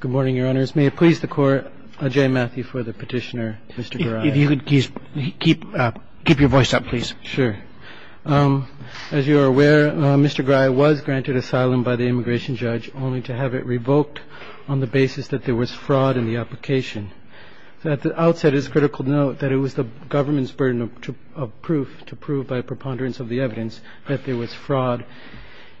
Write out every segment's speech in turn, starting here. Good morning, your honors. May it please the court, I'm J. Matthew for the petitioner, Mr. Goraya. If you could keep your voice up, please. Sure. As you are aware, Mr. Goraya was granted asylum by the immigration judge, only to have it revoked on the basis that there was fraud in the application. At the outset, it's critical to note that it was the government's burden of proof to prove by preponderance of the evidence that there was fraud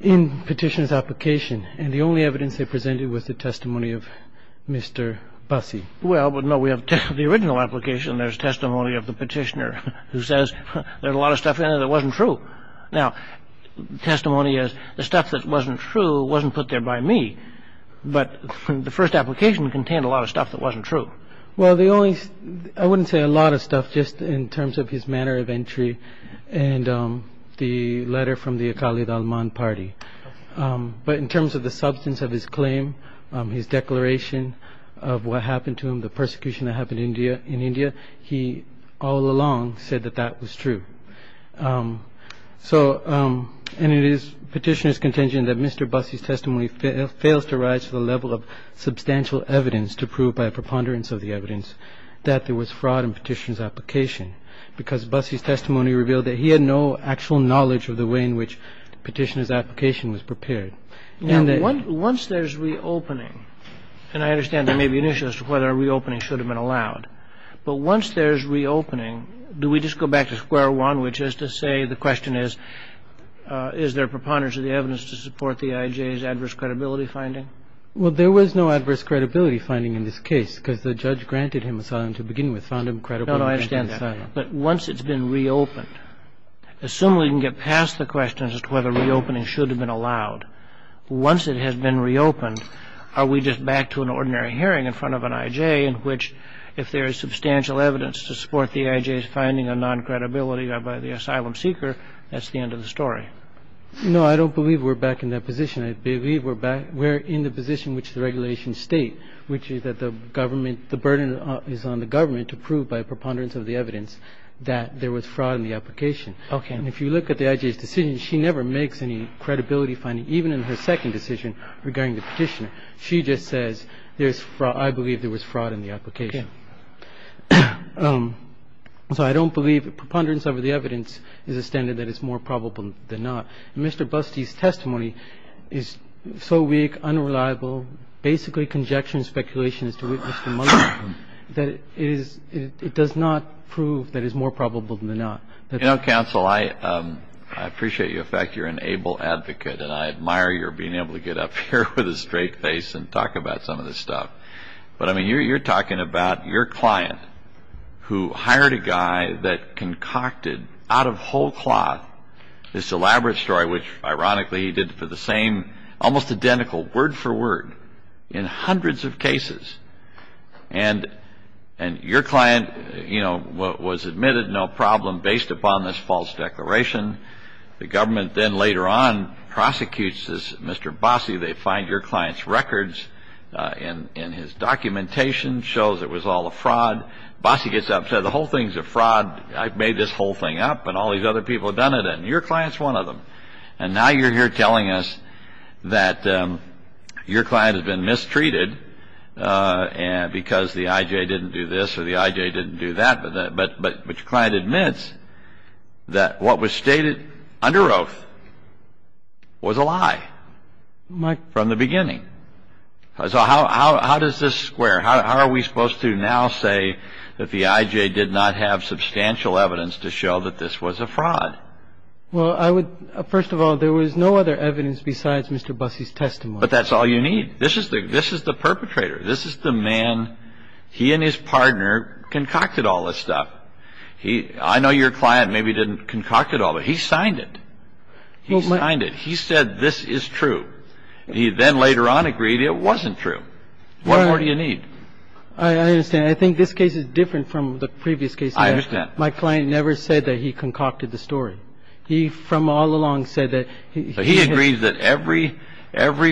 in the petitioner's application, and the only evidence they presented was the testimony of Mr. Bassi. Well, no, we have the original application, and there's testimony of the petitioner who says there's a lot of stuff in it that wasn't true. Now, testimony is the stuff that wasn't true wasn't put there by me, but the first application contained a lot of stuff that wasn't true. Well, the only – I wouldn't say a lot of stuff, just in terms of his manner of entry and the letter from the Akali Dalman party. But in terms of the substance of his claim, his declaration of what happened to him, the persecution that happened in India, he all along said that that was true. So – and it is petitioner's contention that Mr. Bassi's testimony fails to rise to the level of substantial evidence to prove by preponderance of the evidence that there was fraud in the petitioner's application, because Bassi's testimony revealed that he had no actual knowledge of the way in which the petitioner's application was prepared. Now, once there's reopening – and I understand there may be an issue as to whether a reopening should have been allowed – but once there's reopening, do we just go back to square one, which is to say the question is, is there preponderance of the evidence to support the IJ's adverse credibility finding? Well, there was no adverse credibility finding in this case, because the judge granted him asylum to begin with, found him credible. No, no, I understand that. But once it's been reopened, assume we can get past the question as to whether reopening should have been allowed. Once it has been reopened, are we just back to an ordinary hearing in front of an IJ in which if there is substantial evidence to support the IJ's finding of non-credibility by the asylum seeker, that's the end of the story? No, I don't believe we're back in that position. I believe we're back – we're in the position which the regulations state, which is that the government – the burden is on the government to prove by preponderance of the evidence that there was fraud in the application. Okay. And if you look at the IJ's decision, she never makes any credibility finding, even in her second decision regarding the petitioner. She just says there's – I believe there was fraud in the application. Okay. So I don't believe preponderance of the evidence is a standard that is more probable than not. Mr. Busty's testimony is so weak, unreliable, basically conjecture and speculation as to what Mr. Mugler said, that it is – it does not prove that it's more probable than not. You know, counsel, I appreciate the fact you're an able advocate, and I admire your being able to get up here with a straight face and talk about some of this stuff. But, I mean, you're talking about your client who hired a guy that concocted, out of whole cloth, this elaborate story, which, ironically, he did for the same – almost identical, word for word, in hundreds of cases. And your client, you know, was admitted, no problem, based upon this false declaration. The government then later on prosecutes this Mr. Bossie. They find your client's records in his documentation, shows it was all a fraud. Bossie gets upset. The whole thing's a fraud. I made this whole thing up, and all these other people have done it. And your client's one of them. And now you're here telling us that your client has been mistreated because the IJ didn't do this or the IJ didn't do that, but your client admits that what was stated under oath was a lie from the beginning. So how does this square? How are we supposed to now say that the IJ did not have substantial evidence to show that this was a fraud? Well, I would – first of all, there was no other evidence besides Mr. Bossie's testimony. But that's all you need. This is the perpetrator. This is the man – he and his partner concocted all this stuff. I know your client maybe didn't concoct it all, but he signed it. He signed it. He said this is true. He then later on agreed it wasn't true. What more do you need? I understand. I think this case is different from the previous case. I understand. My client never said that he concocted the story. He from all along said that – So he agreed that every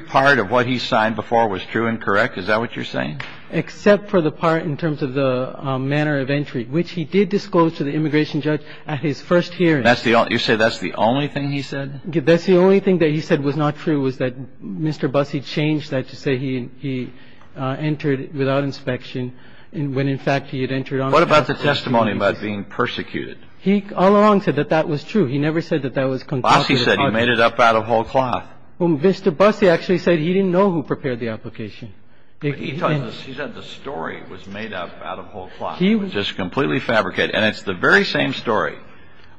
part of what he signed before was true and correct? Is that what you're saying? Except for the part in terms of the manner of entry, which he did disclose to the immigration judge at his first hearing. You say that's the only thing he said? That's the only thing that he said was not true was that Mr. Bossie changed that to say he entered without inspection, when in fact he had entered on – What about the testimony about being persecuted? He all along said that that was true. He never said that that was concocted. Bossie said he made it up out of whole cloth. Well, Mr. Bossie actually said he didn't know who prepared the application. He said the story was made up out of whole cloth. It was just completely fabricated. And it's the very same story.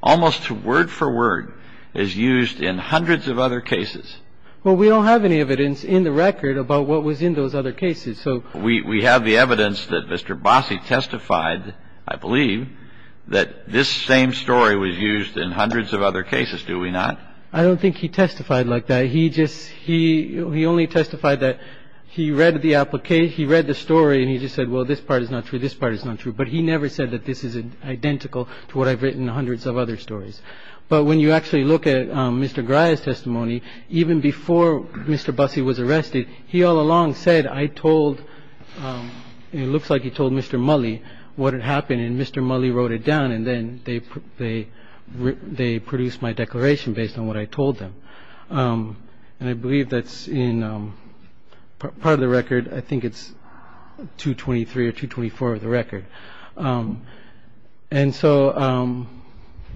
Almost word for word is used in hundreds of other cases. Well, we don't have any evidence in the record about what was in those other cases. So – We have the evidence that Mr. Bossie testified, I believe, that this same story was used in hundreds of other cases, do we not? I don't think he testified like that. He just – he only testified that he read the application – he read the story and he just said, well, this part is not true. This part is not true. But he never said that this is identical to what I've written in hundreds of other stories. But when you actually look at Mr. Grier's testimony, even before Mr. Bossie was arrested, he all along said, I told – it looks like he told Mr. Mully what had happened, and Mr. Mully wrote it down, and then they produced my declaration based on what I told them. And I believe that's in part of the record. I think it's 223 or 224 of the record. And so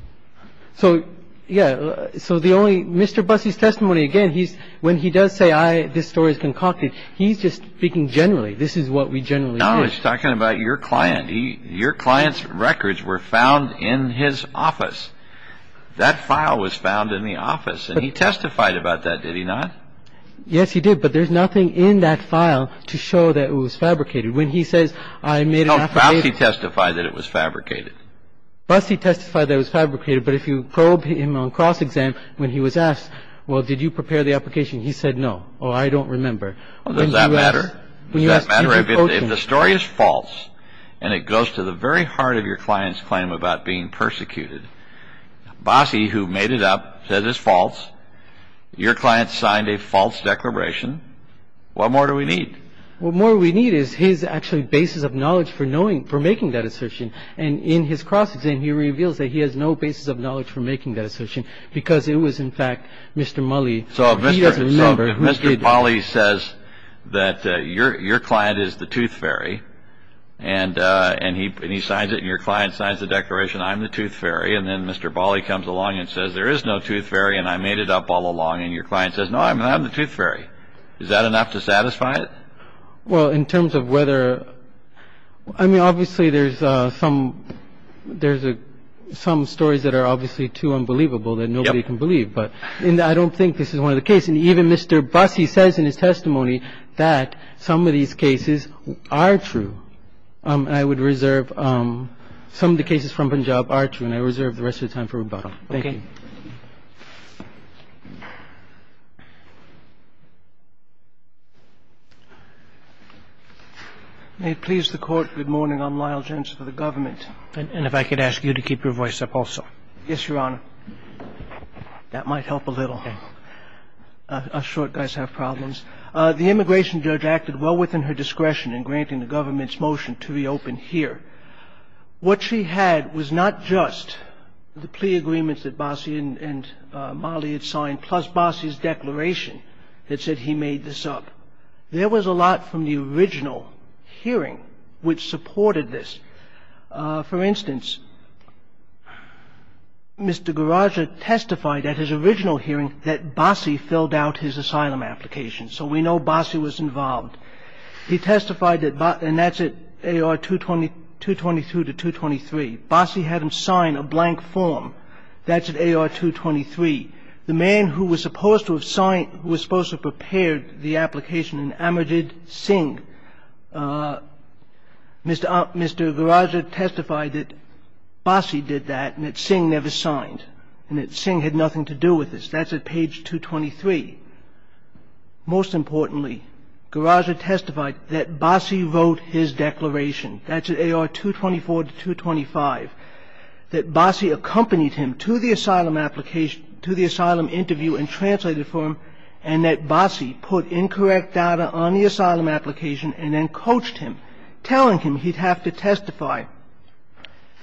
– so, yeah. So the only – Mr. Bossie's testimony, again, he's – when he does say I – this story is concocted, he's just speaking generally. This is what we generally do. No, he's talking about your client. Your client's records were found in his office. That file was found in the office. And he testified about that, did he not? Yes, he did. But there's nothing in that file to show that it was fabricated. When he says I made an application – No, Bossie testified that it was fabricated. Bossie testified that it was fabricated. But if you probe him on cross-exam when he was asked, well, did you prepare the application? He said no. Oh, I don't remember. Does that matter? If the story is false and it goes to the very heart of your client's claim about being persecuted, Bossie, who made it up, says it's false, your client signed a false declaration, what more do we need? What more we need is his actually basis of knowledge for knowing – for making that assertion. And in his cross-exam, he reveals that he has no basis of knowledge for making that assertion because it was, in fact, Mr. Mully. So if Mr. Bali says that your client is the tooth fairy and he signs it and your client signs the declaration, I'm the tooth fairy, and then Mr. Bali comes along and says there is no tooth fairy and I made it up all along, and your client says, no, I'm the tooth fairy, is that enough to satisfy it? Well, in terms of whether – I mean, obviously, there's some stories that are obviously too unbelievable that nobody can believe. But I don't think this is one of the cases. And even Mr. Bossie says in his testimony that some of these cases are true. I would reserve – some of the cases from Punjab are true, and I reserve the rest of the time for rebuttal. Thank you. May it please the Court, good morning. I'm Lyle Gents for the government. And if I could ask you to keep your voice up also. Yes, Your Honor. That might help a little. Us short guys have problems. The immigration judge acted well within her discretion in granting the government's motion to reopen here. What she had was not just the plea agreements that Bossie and Mully had signed plus Bossie's declaration that said he made this up. There was a lot from the original hearing which supported this. For instance, Mr. Garaja testified at his original hearing that Bossie filled out his asylum application. So we know Bossie was involved. He testified that – and that's at A.R. 222 to 223. Bossie had him sign a blank form. That's at A.R. 223. The man who was supposed to have prepared the application, Amarjid Singh, Mr. Garaja testified that Bossie did that and that Singh never signed, and that Singh had nothing to do with this. That's at page 223. Most importantly, Garaja testified that Bossie wrote his declaration. That's at A.R. 224 to 225. That Bossie accompanied him to the asylum interview and translated for him, and that Bossie put incorrect data on the asylum application and then coached him, telling him he'd have to testify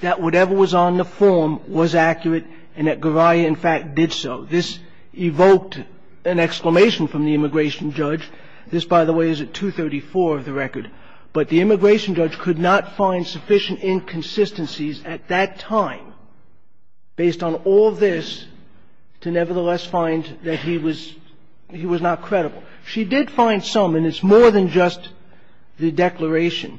that whatever was on the form was accurate and that Garaja, in fact, did so. This evoked an exclamation from the immigration judge. This, by the way, is at 234 of the record. But the immigration judge could not find sufficient inconsistencies at that time, based on all this, to nevertheless find that he was not credible. She did find some, and it's more than just the declaration.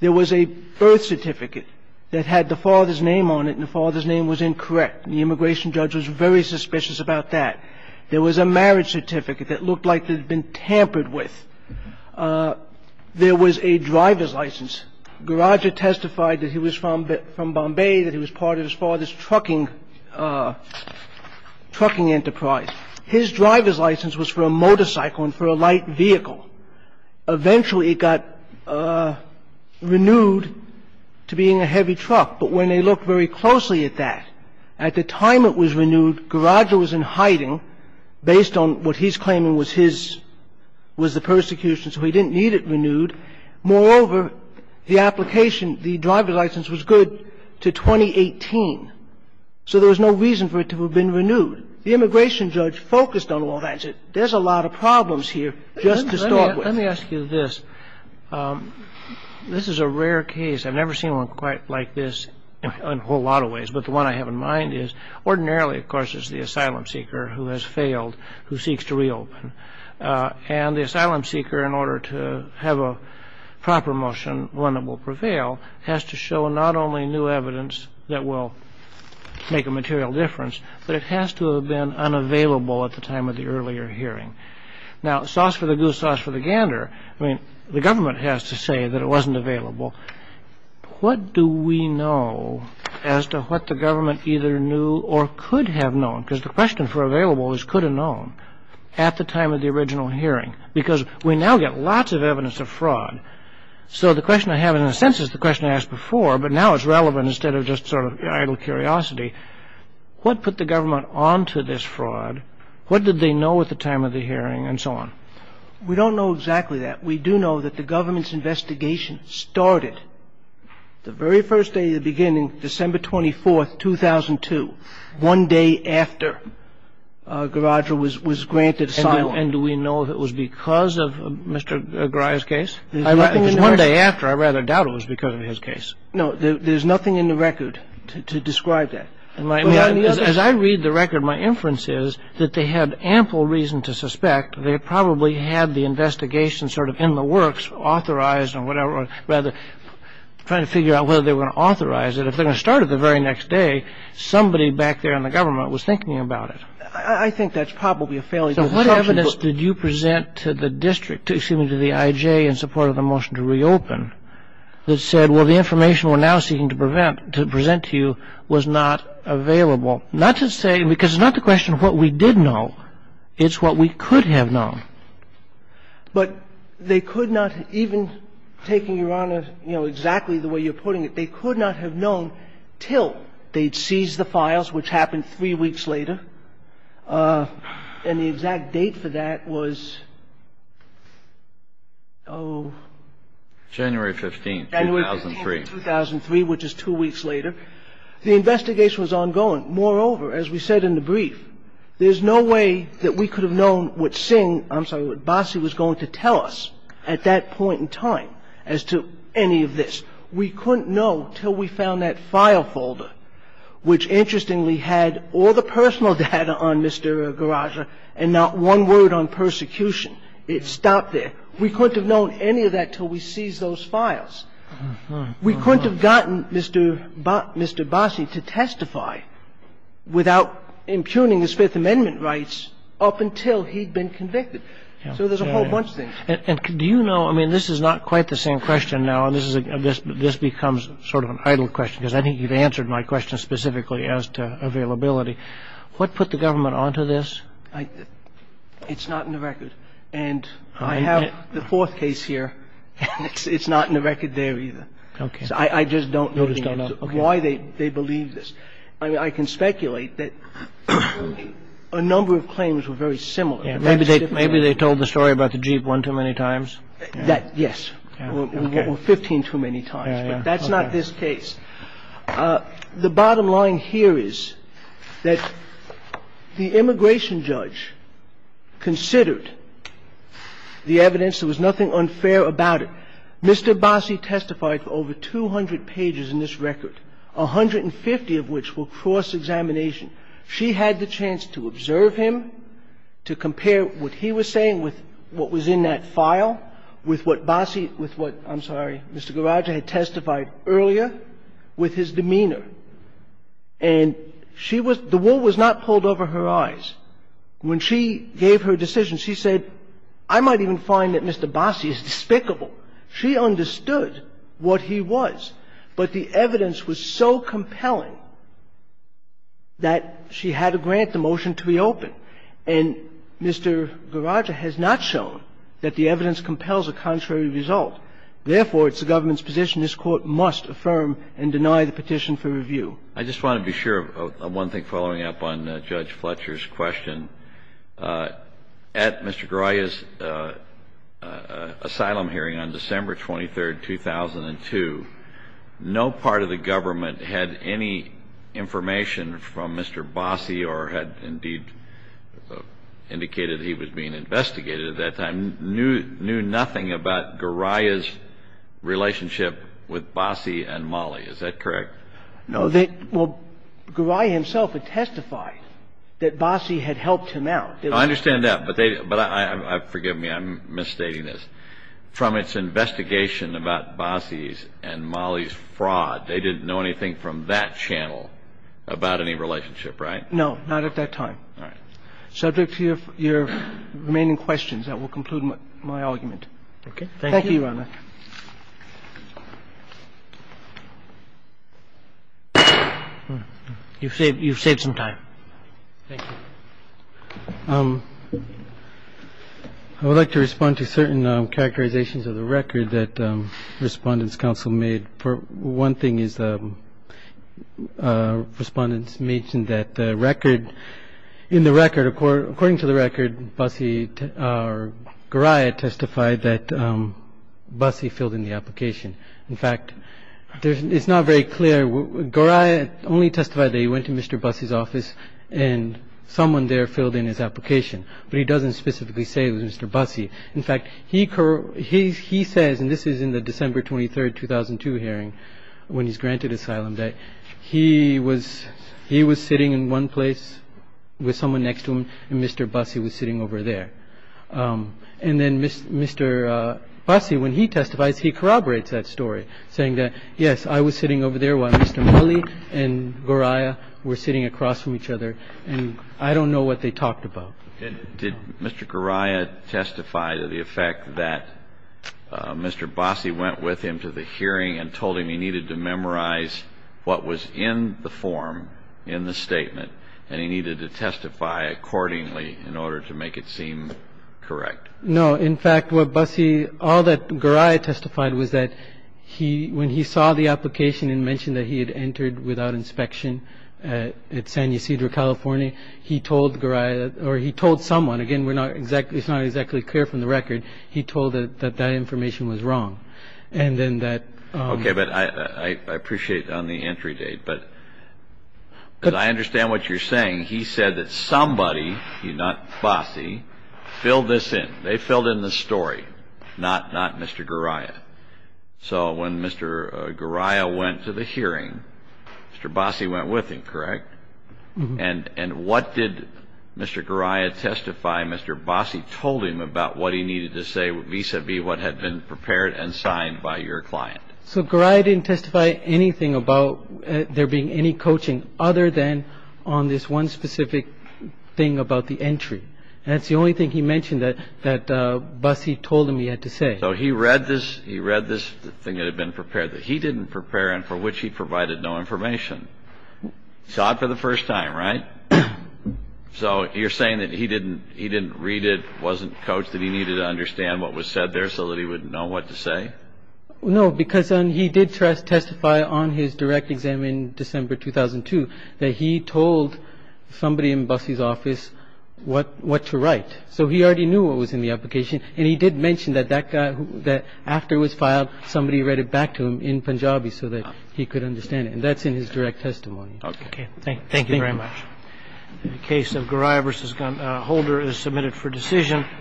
There was a birth certificate that had the father's name on it, and the father's name was incorrect. The immigration judge was very suspicious about that. There was a marriage certificate that looked like it had been tampered with. There was a driver's license. Garaja testified that he was from Bombay, that he was part of his father's trucking enterprise. His driver's license was for a motorcycle and for a light vehicle. Eventually, it got renewed to being a heavy truck. But when they looked very closely at that, at the time it was renewed, Garaja was in hiding, based on what he's claiming was his – was the persecution. So he didn't need it renewed. Moreover, the application, the driver's license was good to 2018. So there was no reason for it to have been renewed. The immigration judge focused on all that. He said there's a lot of problems here just to start with. Let me ask you this. This is a rare case. I've never seen one quite like this in a whole lot of ways. But the one I have in mind is ordinarily, of course, is the asylum seeker who has failed, who seeks to reopen. And the asylum seeker, in order to have a proper motion, one that will prevail, has to show not only new evidence that will make a material difference, but it has to have been unavailable at the time of the earlier hearing. Now, sauce for the goose, sauce for the gander, I mean, the government has to say that it wasn't available. What do we know as to what the government either knew or could have known? Because the question for available is could have known at the time of the original hearing, because we now get lots of evidence of fraud. So the question I have, in a sense, is the question I asked before, but now it's relevant instead of just sort of idle curiosity. What put the government onto this fraud? What did they know at the time of the hearing and so on? We don't know exactly that. But we do know that the government's investigation started the very first day of the beginning, December 24th, 2002, one day after Garager was granted asylum. And do we know if it was because of Mr. Garager's case? If it was one day after, I rather doubt it was because of his case. No. There's nothing in the record to describe that. As I read the record, my inference is that they had ample reason to suspect they probably had the investigation sort of in the works, authorized or whatever, rather trying to figure out whether they were going to authorize it. If they were going to start it the very next day, somebody back there in the government was thinking about it. I think that's probably a failure. So what evidence did you present to the district, excuse me, to the IJ in support of the motion to reopen, that said, well, the information we're now seeking to present to you was not available? Well, not to say, because it's not the question of what we did know. It's what we could have known. But they could not even, taking, Your Honor, you know, exactly the way you're putting it, they could not have known till they'd seized the files, which happened three weeks later. And the exact date for that was, oh. January 15th, 2003. January 15th, 2003, which is two weeks later. The investigation was ongoing. Moreover, as we said in the brief, there's no way that we could have known what Singh – I'm sorry, what Bossie was going to tell us at that point in time as to any of this. We couldn't know till we found that file folder, which interestingly had all the personal data on Mr. Garagia and not one word on persecution. It stopped there. We couldn't have known any of that till we seized those files. We couldn't have gotten Mr. Bossie to testify without impugning his Fifth Amendment rights up until he'd been convicted. So there's a whole bunch of things. And do you know, I mean, this is not quite the same question now, and this becomes sort of an idle question, because I think you've answered my question specifically as to availability. What put the government onto this? It's not in the record. And I have the fourth case here. It's not in the record there either. So I just don't know why they believe this. I mean, I can speculate that a number of claims were very similar. Maybe they told the story about the Jeep one too many times. Yes. Or 15 too many times. But that's not this case. The bottom line here is that the immigration judge considered the evidence. There was nothing unfair about it. Mr. Bossie testified for over 200 pages in this record, 150 of which were cross-examination. She had the chance to observe him, to compare what he was saying with what was in that file, with what Bossie, with what, I'm sorry, Mr. Garagia had testified earlier. She had the chance to observe him with his demeanor. And she was — the wool was not pulled over her eyes. When she gave her decision, she said, I might even find that Mr. Bossie is despicable. She understood what he was. But the evidence was so compelling that she had to grant the motion to reopen. And Mr. Garagia has not shown that the evidence compels a contrary result. Therefore, it's the government's position this Court must affirm and deny the petition for review. I just want to be sure of one thing following up on Judge Fletcher's question. At Mr. Garagia's asylum hearing on December 23, 2002, no part of the government had any information from Mr. Bossie or had indeed indicated he was being investigated at that time, knew nothing about Garagia's relationship with Bossie and Mollie. Is that correct? No. Well, Garagia himself had testified that Bossie had helped him out. I understand that. But they — but forgive me, I'm misstating this. But the government, the government did not know anything from its investigation about Bossie's and Mollie's fraud. They didn't know anything from that channel about any relationship, right? No. Not at that time. All right. Subject to your remaining questions, that will conclude my argument. Okay. Thank you. Thank you, Your Honor. You've saved — you've saved some time. Thank you. I would like to respond to certain characterizations of the record that Respondent's Counsel made. One thing is Respondent's mentioned that the record — in the record, according to the record, Bossie or Garagia testified that Bossie filled in the application. In fact, it's not very clear. Garagia only testified that he went to Mr. Bossie's office and someone there filled in his application. But he doesn't specifically say it was Mr. Bossie. In fact, he says — and this is in the December 23, 2002 hearing when he's granted asylum — that he was sitting in one place with someone next to him and Mr. Bossie was sitting over there. And then Mr. Bossie, when he testifies, he corroborates that story, saying that, yes, I was sitting over there while Mr. Mully and Garagia were sitting across from each other, and I don't know what they talked about. Did Mr. Garagia testify to the effect that Mr. Bossie went with him to the hearing and told him he needed to memorize what was in the form, in the statement, and he needed to testify accordingly in order to make it seem correct? No. In fact, what Bossie — all that Garagia testified was that when he saw the application and mentioned that he had entered without inspection at San Ysidro, California, he told Garagia — or he told someone — again, it's not exactly clear from the record — he told that that information was wrong. And then that — Okay, but I appreciate on the entry date, but I understand what you're saying. He said that somebody, not Bossie, filled this in. They filled in the story, not Mr. Garagia. So when Mr. Garagia went to the hearing, Mr. Bossie went with him, correct? And what did Mr. Garagia testify Mr. Bossie told him about what he needed to say vis-à-vis what had been prepared and signed by your client? So Garagia didn't testify anything about there being any coaching other than on this one specific thing about the entry. And that's the only thing he mentioned that Bossie told him he had to say. So he read this — he read this thing that had been prepared that he didn't prepare and for which he provided no information. He saw it for the first time, right? So you're saying that he didn't — he didn't read it, wasn't coached, that he needed to understand what was said there so that he would know what to say? No, because he did testify on his direct exam in December 2002 that he told somebody in Bossie's office what to write. So he already knew what was in the application. And he did mention that that guy — that after it was filed, somebody read it back to him in Punjabi so that he could understand it. And that's in his direct testimony. Okay. Thank you very much. The case of Garagia v. Holder is submitted for decision.